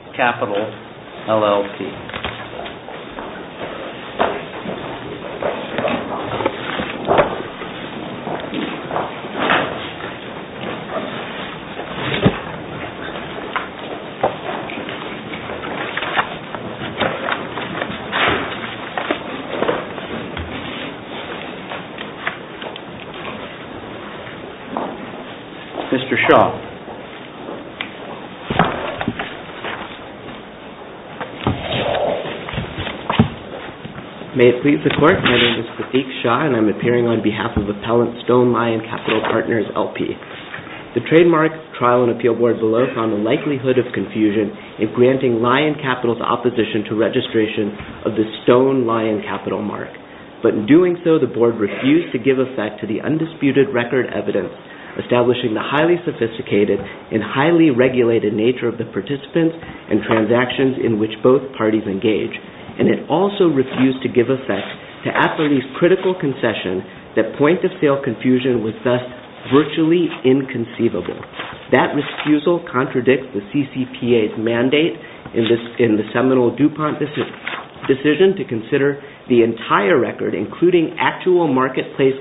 Lion Capital LLP Mr. Shaw May it please the court, my name is Pratik Shaw and I'm appearing on behalf of Appellant Stone Lion Capital Partners LLP. The trademark trial and appeal board below found the likelihood of confusion in granting Lion Capital's opposition to registration of the Stone Lion Capital mark. But in doing so, the board refused to give effect to the undisputed record evidence establishing the highly sophisticated and highly regulated nature of the participants and transactions in which both parties engage. And it also refused to give effect to Appellee's critical concession that point of sale confusion was thus virtually inconceivable. That refusal contradicts the CCPA's mandate in the seminal DuPont decision to consider the entire record including actual marketplace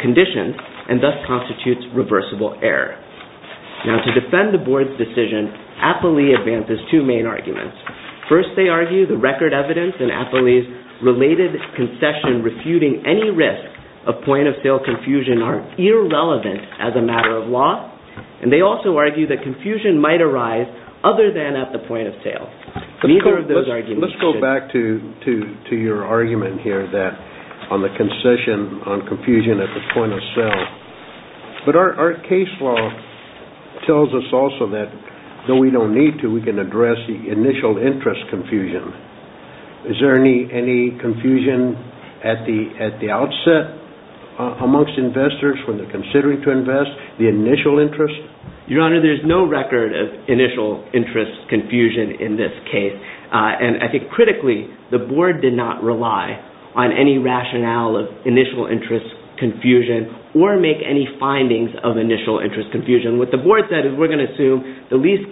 conditions and thus constitutes reversible error. Now to defend the board's decision, Appellee advances two main arguments. First they argue the record evidence in Appellee's related concession refuting any risk of point of sale confusion are irrelevant as a matter of law. And they also argue that confusion might arise other than at the point of sale. Let's go back to your argument here on the concession on confusion at the point of sale. But our case law tells us also that though we don't need to, we can address the initial interest confusion. Is there any confusion at the outset amongst investors when they're considering to invest? The initial interest? Your Honor, there's no record of initial interest confusion in this case. And I think critically the board did not rely on any rationale of initial interest confusion or make any findings of initial interest confusion. What the board said is we're going to assume the least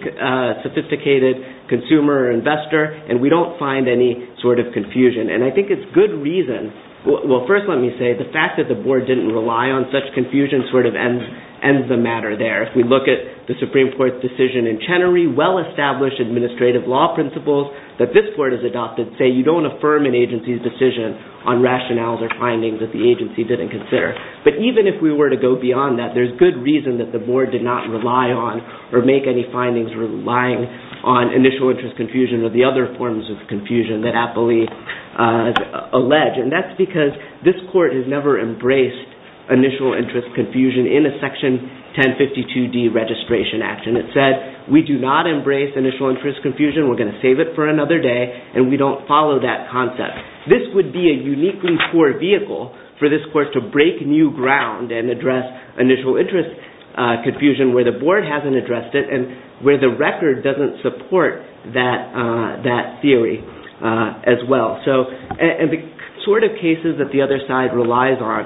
sophisticated consumer or investor and we don't find any sort of confusion. And I think it's good reason, well first let me say the fact that the board didn't rely on such confusion sort of ends the matter there. If we look at the Supreme Court's decision in Chenery, well-established administrative law principles that this court has adopted say you don't affirm an agency's decision on rationales or findings that the agency didn't consider. But even if we were to go beyond that, there's good reason that the board did not rely on or make any findings relying on initial interest confusion or the other forms of confusion that Apley alleged. And that's because this court has never embraced initial interest confusion in a Section 1052D registration action. It said we do not embrace initial interest confusion, we're going to save it for another day, and we don't follow that concept. This would be a uniquely poor vehicle for this court to break new ground and address initial interest confusion where the board hasn't addressed it and where the record doesn't support that theory as well. And the sort of cases that the other side relies on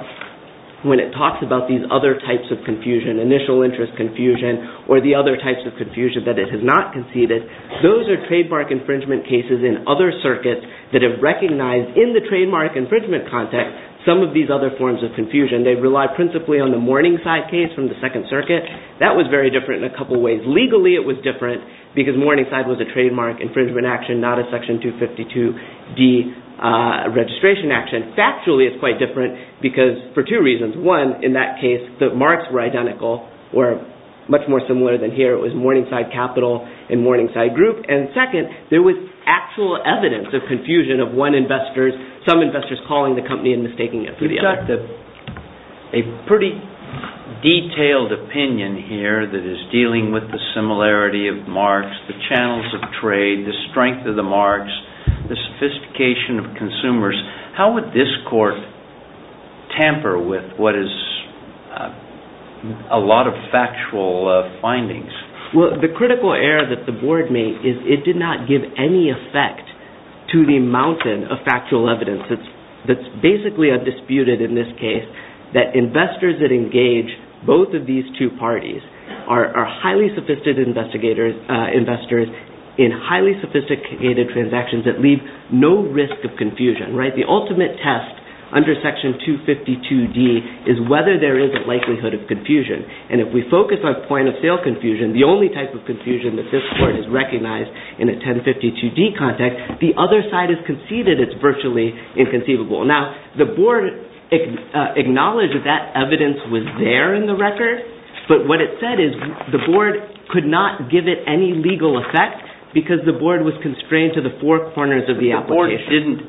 when it talks about these other types of confusion, initial interest confusion or the other types of confusion that it has not conceded, those are trademark infringement cases in other circuits that have recognized in the trademark infringement context some of these other forms of confusion. They've relied principally on the Morningside case from the Second Circuit. That was very different in a couple of ways. Legally it was different because Morningside was a trademark infringement action, not a Section 252D registration action. And factually it's quite different because for two reasons. One, in that case the marks were identical or much more similar than here. It was Morningside Capital and Morningside Group. And second, there was actual evidence of confusion of one investor, some investors calling the company and mistaking it for the other. You've got a pretty detailed opinion here that is dealing with the similarity of marks, the channels of trade, the strength of the marks, the sophistication of consumers. How would this court tamper with what is a lot of factual findings? Well, the critical error that the board made is it did not give any effect to the mountain of factual evidence that's basically undisputed in this case. That investors that engage both of these two parties are highly sophisticated investors in highly sophisticated transactions that leave no risk of confusion. The ultimate test under Section 252D is whether there is a likelihood of confusion. And if we focus on point-of-sale confusion, the only type of confusion that this court has recognized in a 1052D context, the other side has conceded it's virtually inconceivable. Now, the board acknowledged that that evidence was there in the record, but what it said is the board could not give it any legal effect because the board was constrained to the four corners of the application. They didn't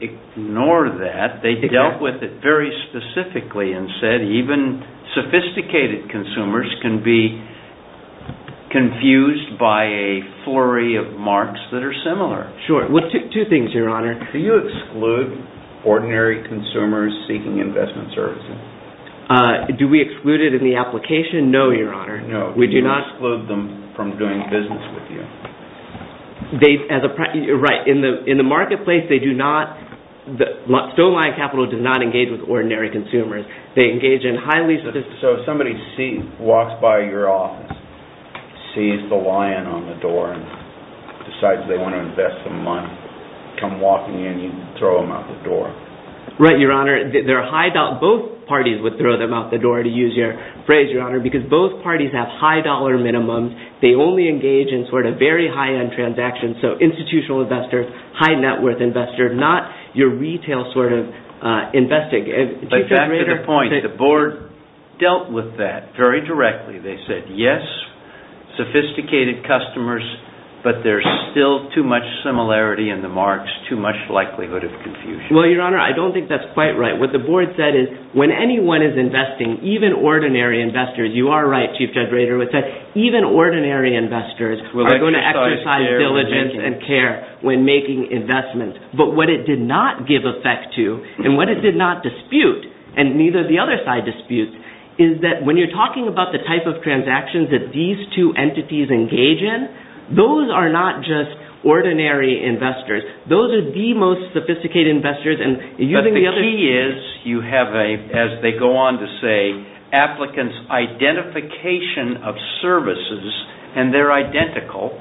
ignore that. They dealt with it very specifically and said even sophisticated consumers can be confused by a flurry of marks that are similar. Sure. Two things, Your Honor. Do you exclude ordinary consumers seeking investment services? Do we exclude it in the application? No, Your Honor. No. Do you exclude them from doing business with you? Right. In the marketplace, Stoneline Capital does not engage with ordinary consumers. They engage in highly sophisticated... So somebody walks by your office, sees the lion on the door, and decides they want to invest some money. Come walking in, you throw them out the door. Right, Your Honor. Both parties would throw them out the door, to use your phrase, Your Honor, because both parties have high dollar minimums. They only engage in very high-end transactions, so institutional investors, high net worth investors, not your retail investing. But back to the point, the board dealt with that very directly. They said, yes, sophisticated customers, but there's still too much similarity in the marks, too much likelihood of confusion. Well, Your Honor, I don't think that's quite right. What the board said is, when anyone is investing, even ordinary investors, you are right, Chief Judge Rader, even ordinary investors are going to exercise diligence and care when making investments. But what it did not give effect to, and what it did not dispute, and neither did the other side dispute, is that when you're talking about the type of transactions that these two entities engage in, those are not just ordinary investors. Those are the most sophisticated investors. But the key is, you have, as they go on to say, applicants' identification of services, and they're identical.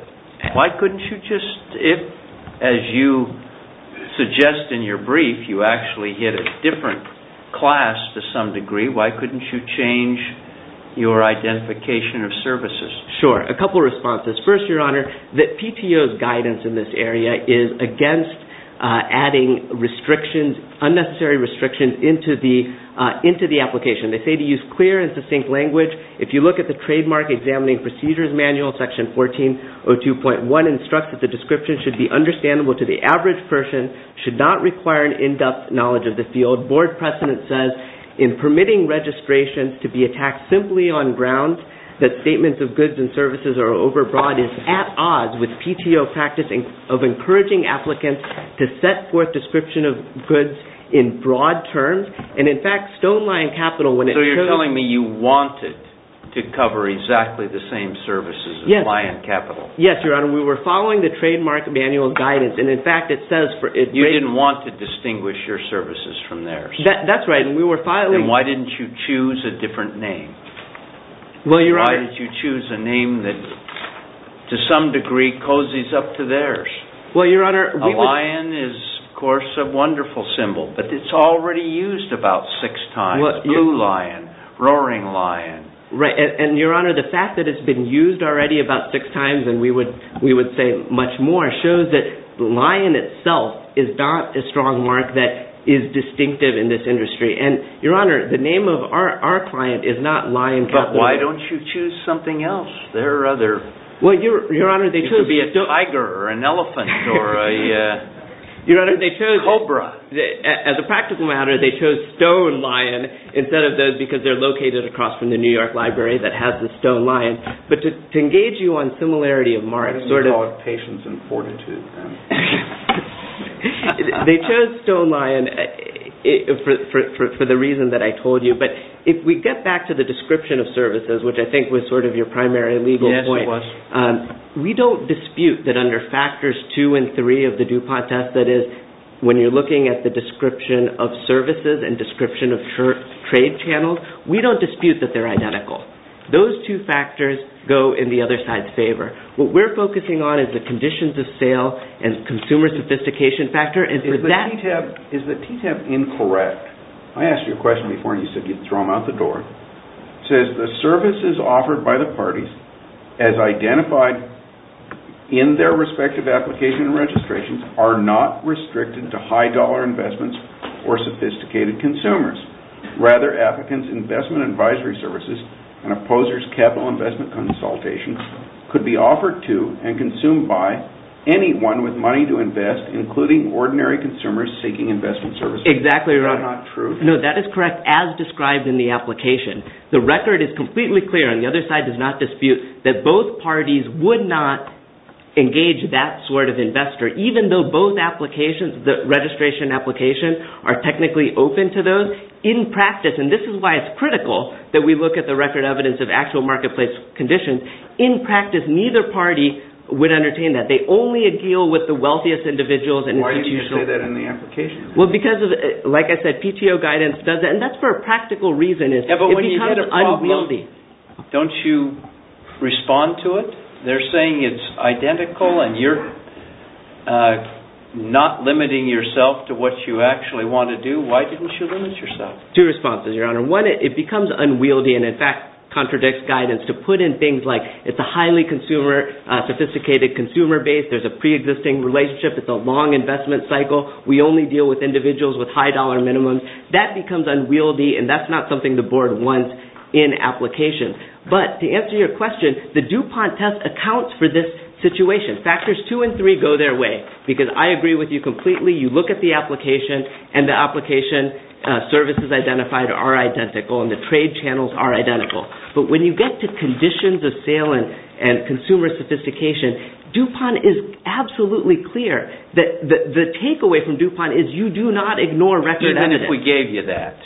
Why couldn't you just, as you suggest in your brief, you actually hit a different class to some degree. Why couldn't you change your identification of services? Sure. A couple of responses. First, Your Honor, the PTO's guidance in this area is against adding unnecessary restrictions into the application. They say to use clear and succinct language. If you look at the Trademark Examining Procedures Manual, Section 1402.1 instructs that the description should be understandable to the average person, should not require an in-depth knowledge of the field. The Board precedent says in permitting registration to be attacked simply on grounds that statements of goods and services are overbroad is at odds with PTO practicing of encouraging applicants to set forth descriptions of goods in broad terms. And in fact, StoneLion Capital, when it shows... So you're telling me you wanted to cover exactly the same services as Lion Capital. Yes, Your Honor. We were following the Trademark Manual guidance. You didn't want to distinguish your services from theirs. That's right. Then why didn't you choose a different name? Why did you choose a name that, to some degree, cozies up to theirs? Well, Your Honor... A lion is, of course, a wonderful symbol, but it's already used about six times. Blue lion, roaring lion. Right. And, Your Honor, the fact that it's been used already about six times, and we would say much more, shows that lion itself is not a strong mark that is distinctive in this industry. And, Your Honor, the name of our client is not Lion Capital. But why don't you choose something else? There are other... Well, Your Honor, they chose... It could be a tiger or an elephant or a cobra. As a practical matter, they chose stone lion instead of those, because they're located across from the New York Library that has the stone lion. But to engage you on similarity of marks... Why didn't you call it Patience and Fortitude? They chose stone lion for the reason that I told you. But if we get back to the description of services, which I think was sort of your primary legal point... Yes, it was. We don't dispute that under factors two and three of the DuPont test, that is, when you're looking at the description of services and description of trade channels, we don't dispute that they're identical. Those two factors go in the other side's favor. What we're focusing on is the conditions of sale and consumer sophistication factor. Is the TTIP incorrect? I asked you a question before, and you said you'd throw them out the door. It says, the services offered by the parties, as identified in their respective application and registrations, are not restricted to high-dollar investments or sophisticated consumers. Rather, applicants' investment advisory services and opposers' capital investment consultations could be offered to and consumed by anyone with money to invest, including ordinary consumers seeking investment services. Exactly right. Is that not true? No, that is correct, as described in the application. The record is completely clear, and the other side does not dispute, that both parties would not engage that sort of investor, even though both applications, the registration and application, are technically open to those. In practice, and this is why it's critical that we look at the record evidence of actual marketplace conditions, in practice, neither party would entertain that. They only agile with the wealthiest individuals. Why did you say that in the application? Like I said, PTO guidance does that, and that's for a practical reason. It becomes unwieldy. Don't you respond to it? They're saying it's identical, and you're not limiting yourself to what you actually want to do. Why didn't you limit yourself? Two responses, Your Honor. One, it becomes unwieldy and, in fact, contradicts guidance. To put in things like, it's a highly sophisticated consumer base, there's a pre-existing relationship, it's a long investment cycle, we only deal with individuals with high dollar minimums. That becomes unwieldy, and that's not something the Board wants in applications. But, to answer your question, the DuPont test accounts for this situation. Factors two and three go their way, because I agree with you completely. You look at the application, and the application services identified are identical, and the trade channels are identical. But when you get to conditions of sale and consumer sophistication, DuPont is absolutely clear that the takeaway from DuPont is you do not ignore record evidence. Even if we gave you that,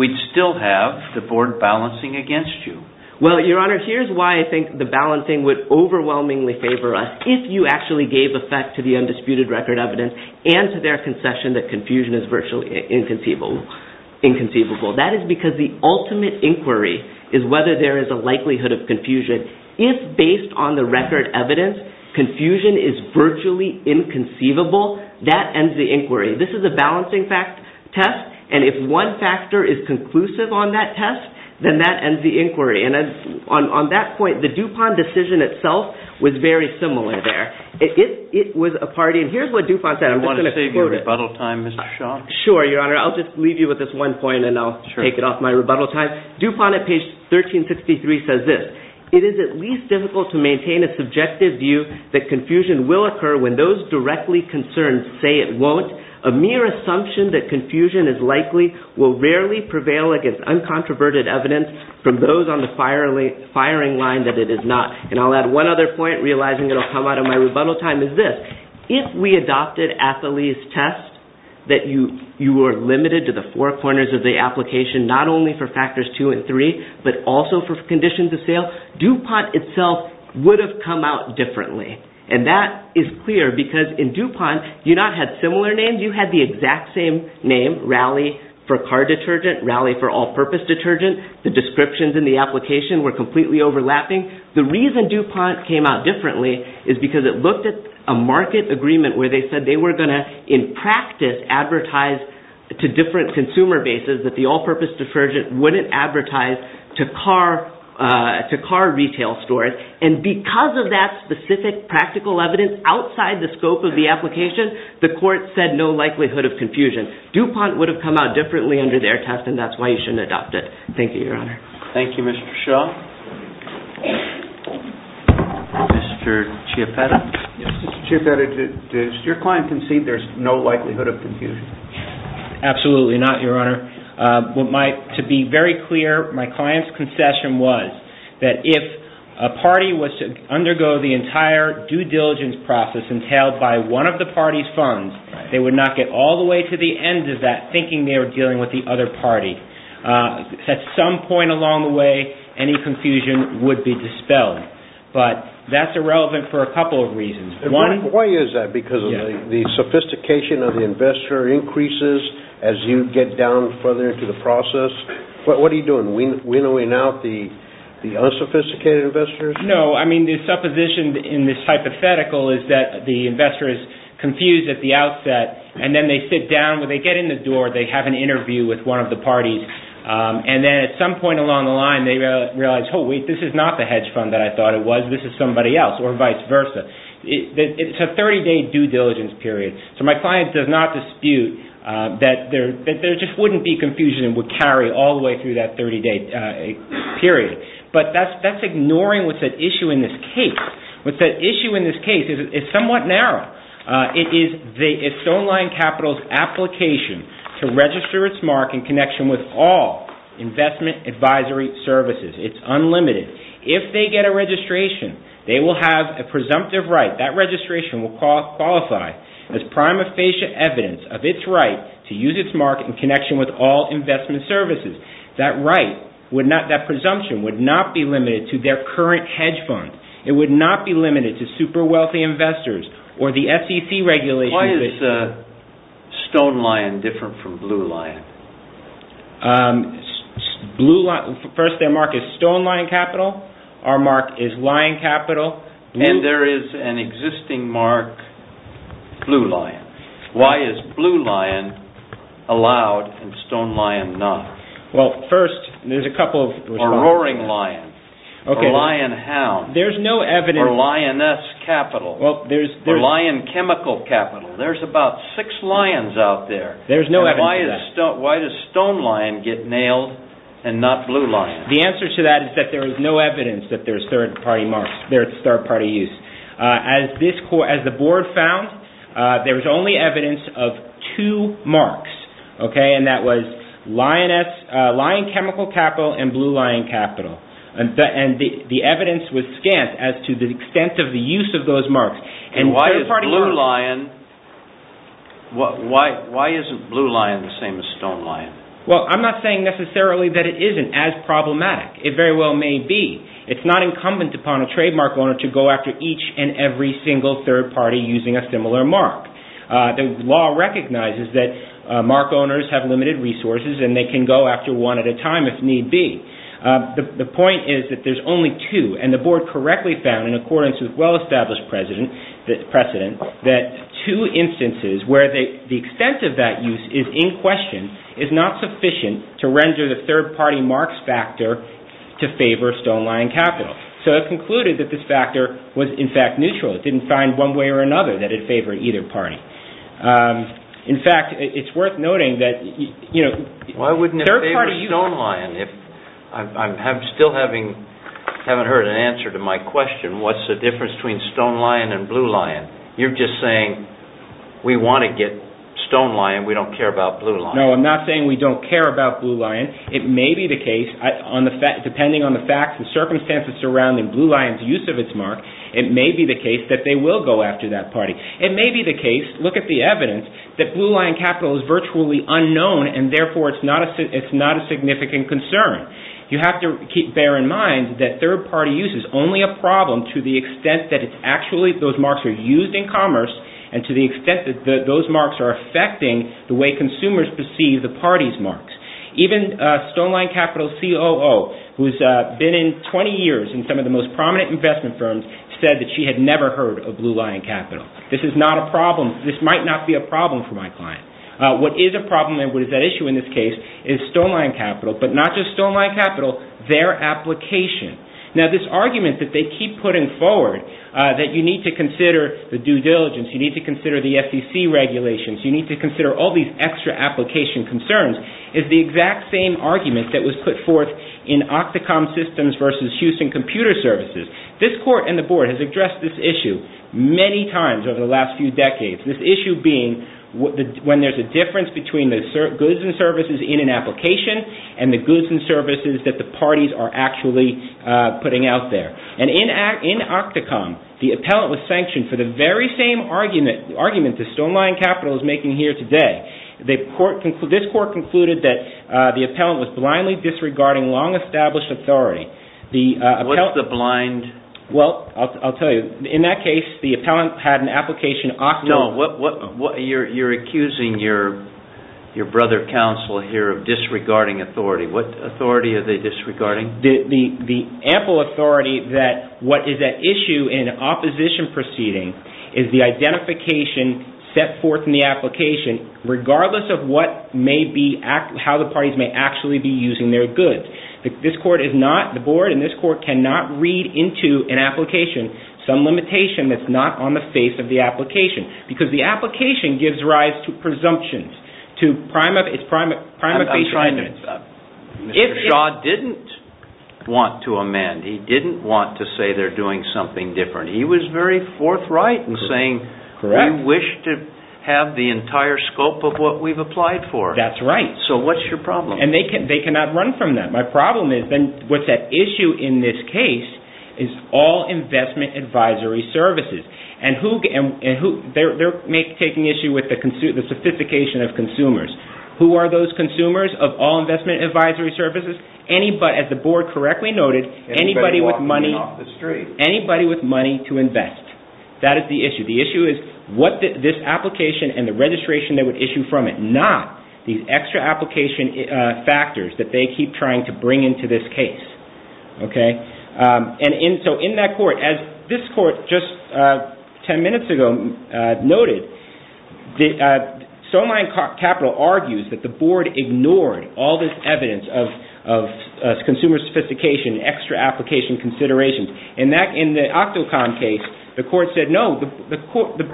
we'd still have the Board balancing against you. Well, Your Honor, here's why I think the balancing would overwhelmingly favor us, if you actually gave effect to the undisputed record evidence and to their concession that confusion is virtually inconceivable. That is because the ultimate inquiry is whether there is a likelihood of confusion If, based on the record evidence, confusion is virtually inconceivable, that ends the inquiry. This is a balancing test, and if one factor is conclusive on that test, then that ends the inquiry. And on that point, the DuPont decision itself was very similar there. It was a party, and here's what DuPont said. I want to save your rebuttal time, Mr. Shaw. Sure, Your Honor. I'll just leave you with this one point, and I'll take it off my rebuttal time. DuPont, at page 1363, says this. It is at least difficult to maintain a subjective view that confusion will occur when those directly concerned say it won't. A mere assumption that confusion is likely will rarely prevail against uncontroverted evidence from those on the firing line that it is not. And I'll add one other point, realizing it'll come out of my rebuttal time, is this. If we adopted Athelie's test, that you were limited to the four corners of the application, not only for factors two and three, but also for conditions of sale, DuPont itself would have come out differently. And that is clear, because in DuPont, you not had similar names. You had the exact same name, Rally for Car Detergent, Rally for All-Purpose Detergent. The descriptions in the application were completely overlapping. The reason DuPont came out differently is because it looked at a market agreement where they said they were going to, in practice, advertise to different consumer bases that the all-purpose detergent wouldn't advertise to car retail stores. And because of that specific practical evidence outside the scope of the application, the court said no likelihood of confusion. DuPont would have come out differently under their test, and that's why you shouldn't adopt it. Thank you, Your Honor. Thank you, Mr. Shaw. Mr. Chiappetta? Mr. Chiappetta, does your client concede there's no likelihood of confusion? Absolutely not, Your Honor. To be very clear, my client's concession was that if a party was to undergo the entire due diligence process entailed by one of the party's funds, they would not get all the way to the end of that thinking they were dealing with the other party. At some point along the way, any confusion would be dispelled. But that's irrelevant for a couple of reasons. Why is that? Because the sophistication of the investor increases as you get down further into the process? What are you doing? Wheeling out the unsophisticated investors? No, I mean, the supposition in this hypothetical is that the investor is confused at the outset, and then they sit down. When they get in the door, they have an interview with one of the parties, and then at some point along the line, they realize, oh, wait, this is not the hedge fund that I thought it was. This is somebody else, or vice versa. It's a 30-day due diligence period. So my client does not dispute that there just wouldn't be confusion and would carry all the way through that 30-day period. But that's ignoring what's at issue in this case. What's at issue in this case is it's somewhat narrow. It's StoneLine Capital's application to register its mark in connection with all investment advisory services. It's unlimited. If they get a registration, they will have a presumptive right. That registration will qualify as prima facie evidence of its right to use its mark in connection with all investment services. That presumption would not be limited to their current hedge fund. It would not be limited to super wealthy investors or the SEC regulations. Why is StoneLine different from BlueLine? First, their mark is StoneLine Capital. Our mark is Lion Capital. And there is an existing mark, BlueLine. Why is BlueLine allowed and StoneLine not? Well, first, there's a couple of reasons. Or Roaring Lion. Or Lion Hound. There's no evidence. Or Lioness Capital. Or Lion Chemical Capital. There's about six lions out there. There's no evidence of that. Why does StoneLine get nailed and not BlueLine? The answer to that is that there is no evidence that there is third-party use. As the board found, there was only evidence of two marks. And that was Lion Chemical Capital and BlueLine Capital. And the evidence was scant as to the extent of the use of those marks. And why is BlueLine the same as StoneLine? Well, I'm not saying necessarily that it isn't as problematic. It very well may be. It's not incumbent upon a trademark owner to go after each and every single third party using a similar mark. The law recognizes that mark owners have limited resources and they can go after one at a time if need be. The point is that there's only two. And the board correctly found, in accordance with well-established precedent, that two instances where the extent of that use is in question is not sufficient to render the third-party marks factor to favor StoneLine Capital. So it concluded that this factor was, in fact, neutral. It didn't find one way or another that it favored either party. In fact, it's worth noting that... Why wouldn't it favor StoneLine? I still haven't heard an answer to my question, what's the difference between StoneLine and BlueLine? You're just saying we want to get StoneLine, we don't care about BlueLine. No, I'm not saying we don't care about BlueLine. It may be the case, depending on the facts and circumstances surrounding BlueLine's use of its mark, it may be the case that they will go after that party. It may be the case, look at the evidence, that BlueLine Capital is virtually unknown and therefore it's not a significant concern. You have to bear in mind that third-party use is only a problem to the extent that those marks are used in commerce and to the extent that those marks are affecting the way consumers perceive the party's marks. Even StoneLine Capital's COO, who's been in 20 years in some of the most prominent investment firms, said that she had never heard of BlueLine Capital. This is not a problem, this might not be a problem for my client. What is a problem and what is at issue in this case is StoneLine Capital, but not just StoneLine Capital, their application. Now this argument that they keep putting forward, that you need to consider the due diligence, you need to consider the SEC regulations, you need to consider all these extra application concerns, is the exact same argument that was put forth in Octocom Systems versus Houston Computer Services. This court and the board has addressed this issue many times over the last few decades, this issue being when there's a difference between the goods and services in an application and the goods and services that the parties are actually putting out there. And in Octocom, the appellant was sanctioned for the very same argument that StoneLine Capital is making here today. This court concluded that the appellant was blindly disregarding long-established authority. What's the blind... Well, I'll tell you. In that case, the appellant had an application... No, you're accusing your brother counsel here of disregarding authority. What authority are they disregarding? The ample authority that what is at issue in an opposition proceeding is the identification set forth in the application regardless of how the parties may actually be using their goods. This court is not, the board and this court cannot read into an application some limitation that's not on the face of the application because the application gives rise to presumptions, to prima facie arguments. If Shaw didn't want to amend, he didn't want to say they're doing something different, he was very forthright in saying we wish to have the entire scope of what we've applied for. That's right. So what's your problem? They cannot run from that. My problem is then what's at issue in this case is all investment advisory services. They're taking issue with the sophistication of consumers. Who are those consumers of all investment advisory services? As the board correctly noted, anybody with money to invest. That is the issue. The issue is what this application and the registration they would issue from it, these extra application factors that they keep trying to bring into this case. So in that court, as this court just ten minutes ago noted, Stonemine Capital argues that the board ignored all this evidence of consumer sophistication, extra application considerations. In the Octocon case, the court said no, the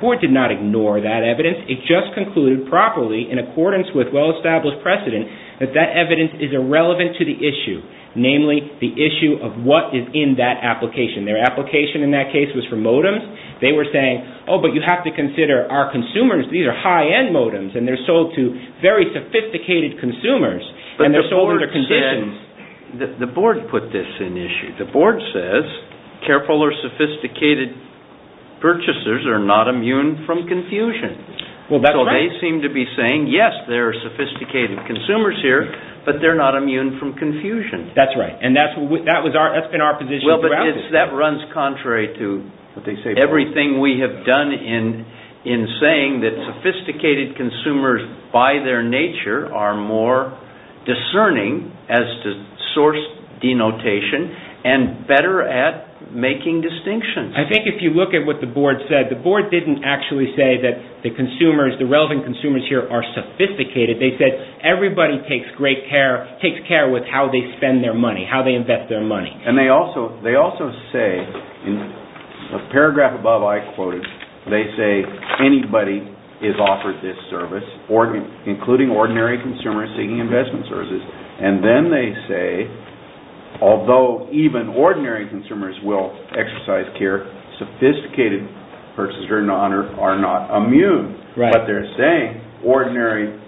court did not ignore that evidence. It just concluded properly in accordance with well-established precedent that that evidence is irrelevant to the issue, namely the issue of what is in that application. Their application in that case was for modems. They were saying, oh, but you have to consider our consumers, these are high-end modems, and they're sold to very sophisticated consumers, and they're sold under conditions. The board put this in issue. The board says careful or sophisticated purchasers are not immune from confusion. So they seem to be saying, yes, there are sophisticated consumers here, but they're not immune from confusion. That's right, and that's been our position throughout this. That runs contrary to everything we have done in saying that sophisticated consumers, by their nature, are more discerning as to source denotation and better at making distinctions. I think if you look at what the board said, the board didn't actually say that the consumers, the relevant consumers here are sophisticated. They said everybody takes care with how they spend their money, how they invest their money. They also say, in the paragraph above I quoted, they say anybody is offered this service, including ordinary consumers seeking investment services, and then they say, although even ordinary consumers will exercise care, sophisticated purchasers are not immune. But they're saying ordinary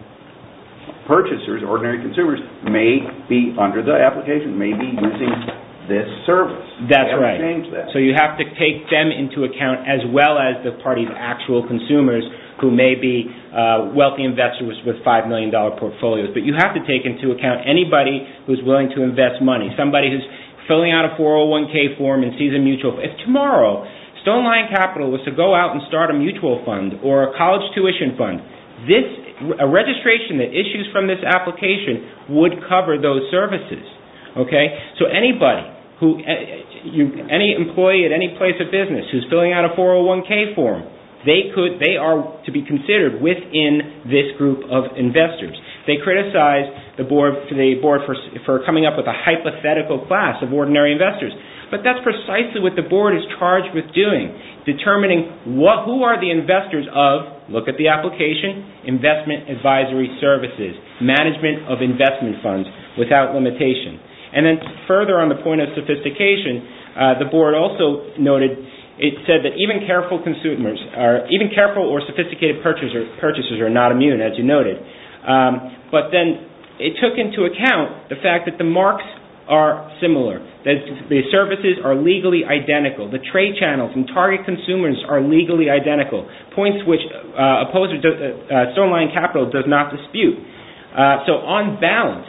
purchasers, ordinary consumers may be under the application, may be using this service. That's right, so you have to take them into account as well as the party's actual consumers who may be wealthy investors with $5 million portfolios. But you have to take into account anybody who's willing to invest money, somebody who's filling out a 401k form and sees a mutual fund. If tomorrow, Stoneline Capital was to go out and start a mutual fund or a college tuition fund, a registration that issues from this application would cover those services. So anybody, any employee at any place of business who's filling out a 401k form, they are to be considered within this group of investors. They criticize the board for coming up with a hypothetical class of ordinary investors, but that's precisely what the board is charged with doing, determining who are the investors of, look at the application, investment advisory services, management of investment funds without limitation. And then further on the point of sophistication, the board also noted, it said that even careful or sophisticated purchasers are not immune, as you noted. But then it took into account the fact that the marks are similar. The services are legally identical. The trade channels and target consumers are legally identical, points which Stoneline Capital does not dispute. So on balance,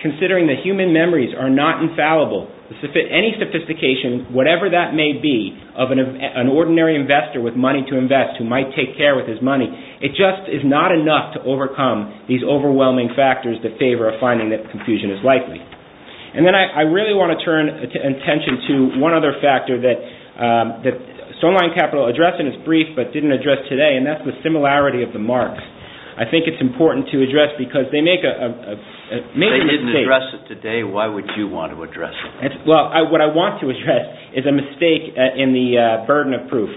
considering that human memories are not infallible, any sophistication, whatever that may be, of an ordinary investor with money to invest who might take care of his money, it just is not enough to overcome these overwhelming factors that favor a finding that confusion is likely. And then I really want to turn attention to one other factor that Stoneline Capital addressed in its brief but didn't address today, and that's the similarity of the marks. I think it's important to address because they make a major mistake. If they didn't address it today, why would you want to address it? Well, what I want to address is a mistake in the burden of proof.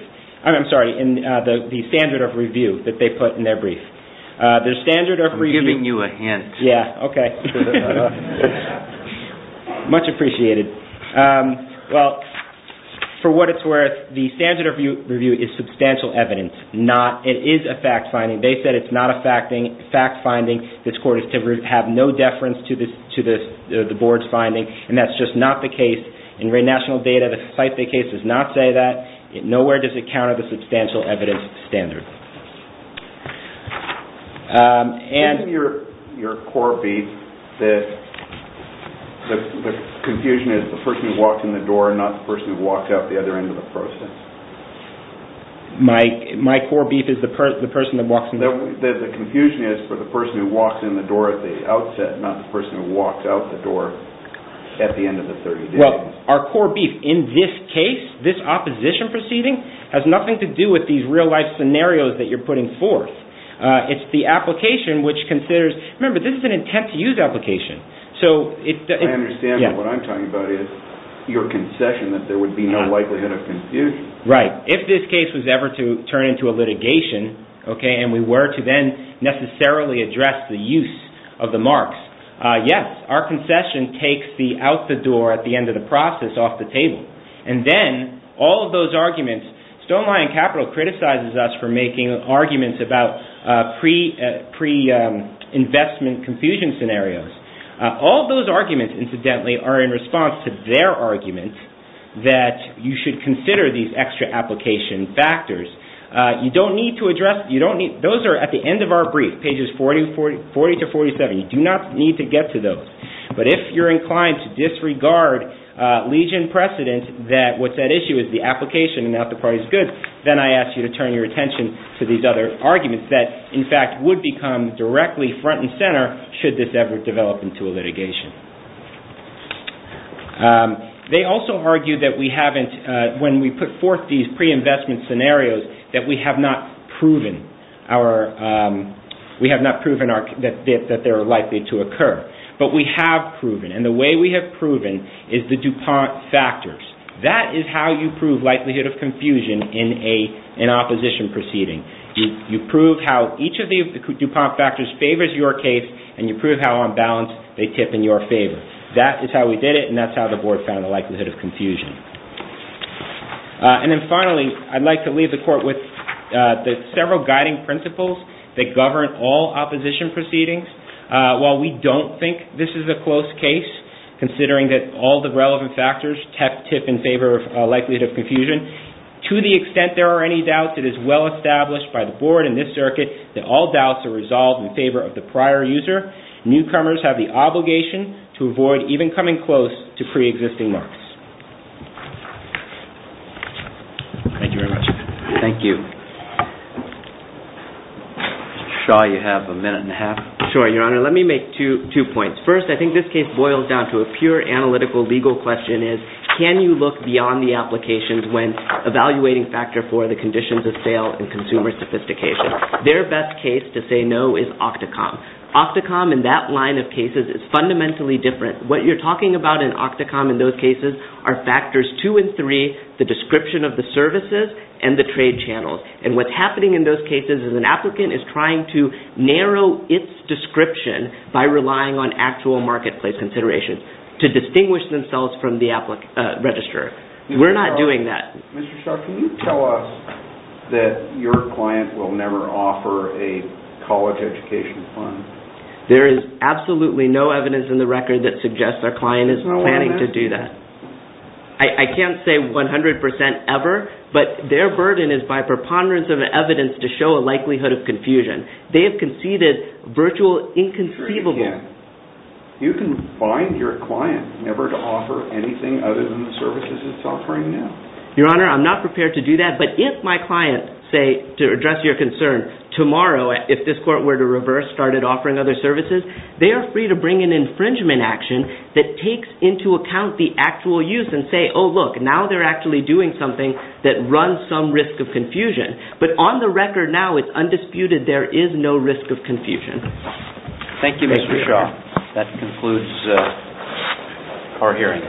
I'm sorry, in the standard of review that they put in their brief. I'm giving you a hint. Yeah, okay. Much appreciated. Well, for what it's worth, the standard of review is substantial evidence. It is a fact-finding. They said it's not a fact-finding. This court is to have no deference to the board's finding, and that's just not the case. In national data, the Syfy case does not say that. Nowhere does it count as a substantial evidence standard. Give me your core beef. The confusion is the person who walks in the door and not the person who walks out the other end of the process. My core beef is the person that walks in the door. The confusion is for the person who walks in the door at the outset, not the person who walks out the door at the end of the 30 days. Well, our core beef in this case, this opposition proceeding, has nothing to do with these real-life scenarios that you're putting forth. It's the application which considers, remember, this is an intent-to-use application. I understand, but what I'm talking about is your concession that there would be no likelihood of confusion. Right. If this case was ever to turn into a litigation, and we were to then necessarily address the use of the marks, yes, our concession takes the out-the-door at the end of the process off the table. And then all of those arguments, StoneLion Capital criticizes us for making arguments about pre-investment confusion scenarios. All of those arguments, incidentally, are in response to their argument that you should consider these extra application factors. You don't need to address, those are at the end of our brief, pages 40 to 47. You do not need to get to those. But if you're inclined to disregard legion precedent that what's at issue is the application and not the parties goods, then I ask you to turn your attention to these other arguments that, in fact, would become directly front and center should this ever develop into a litigation. They also argue that we haven't, when we put forth these pre-investment scenarios, that we have not proven that they are likely to occur. But we have proven, and the way we have proven is the DuPont factors. That is how you prove likelihood of confusion in an opposition proceeding. You prove how each of the DuPont factors favors your case and you prove how, on balance, they tip in your favor. That is how we did it and that's how the board found the likelihood of confusion. And then finally, I'd like to leave the court with the several guiding principles that govern all opposition proceedings. While we don't think this is a close case, considering that all the relevant factors tip in favor of likelihood of confusion, to the extent there are any doubts, it is well established by the board and this circuit that all doubts are resolved in favor of the prior user. Newcomers have the obligation to avoid even coming close to pre-existing marks. Thank you very much. Thank you. Shaw, you have a minute and a half. Sure, Your Honor. Let me make two points. First, I think this case boils down to a pure analytical legal question is, can you look beyond the applications when evaluating factor for the conditions of sale and consumer sophistication? Their best case to say no is OCTACOM. OCTACOM in that line of cases is fundamentally different. What you're talking about in OCTACOM in those cases are factors 2 and 3, the description of the services and the trade channels. What's happening in those cases is an applicant is trying to narrow its description by relying on actual marketplace considerations to distinguish themselves from the registrar. We're not doing that. Mr. Shaw, can you tell us that your client will never offer a college education fund? There is absolutely no evidence in the record that suggests our client is planning to do that. I can't say 100% ever, but their burden is by preponderance of evidence to show a likelihood of confusion. They have conceded virtual inconceivable. You can find your client never to offer anything other than the services it's offering now. Your Honor, I'm not prepared to do that, but if my client, to address your concern, tomorrow, if this court were to reverse, started offering other services, they are free to bring an infringement action that takes into account the actual use and say, oh, look, now they're actually doing something that runs some risk of confusion. But on the record now, it's undisputed there is no risk of confusion. Thank you, Mr. Shaw. That concludes our hearing.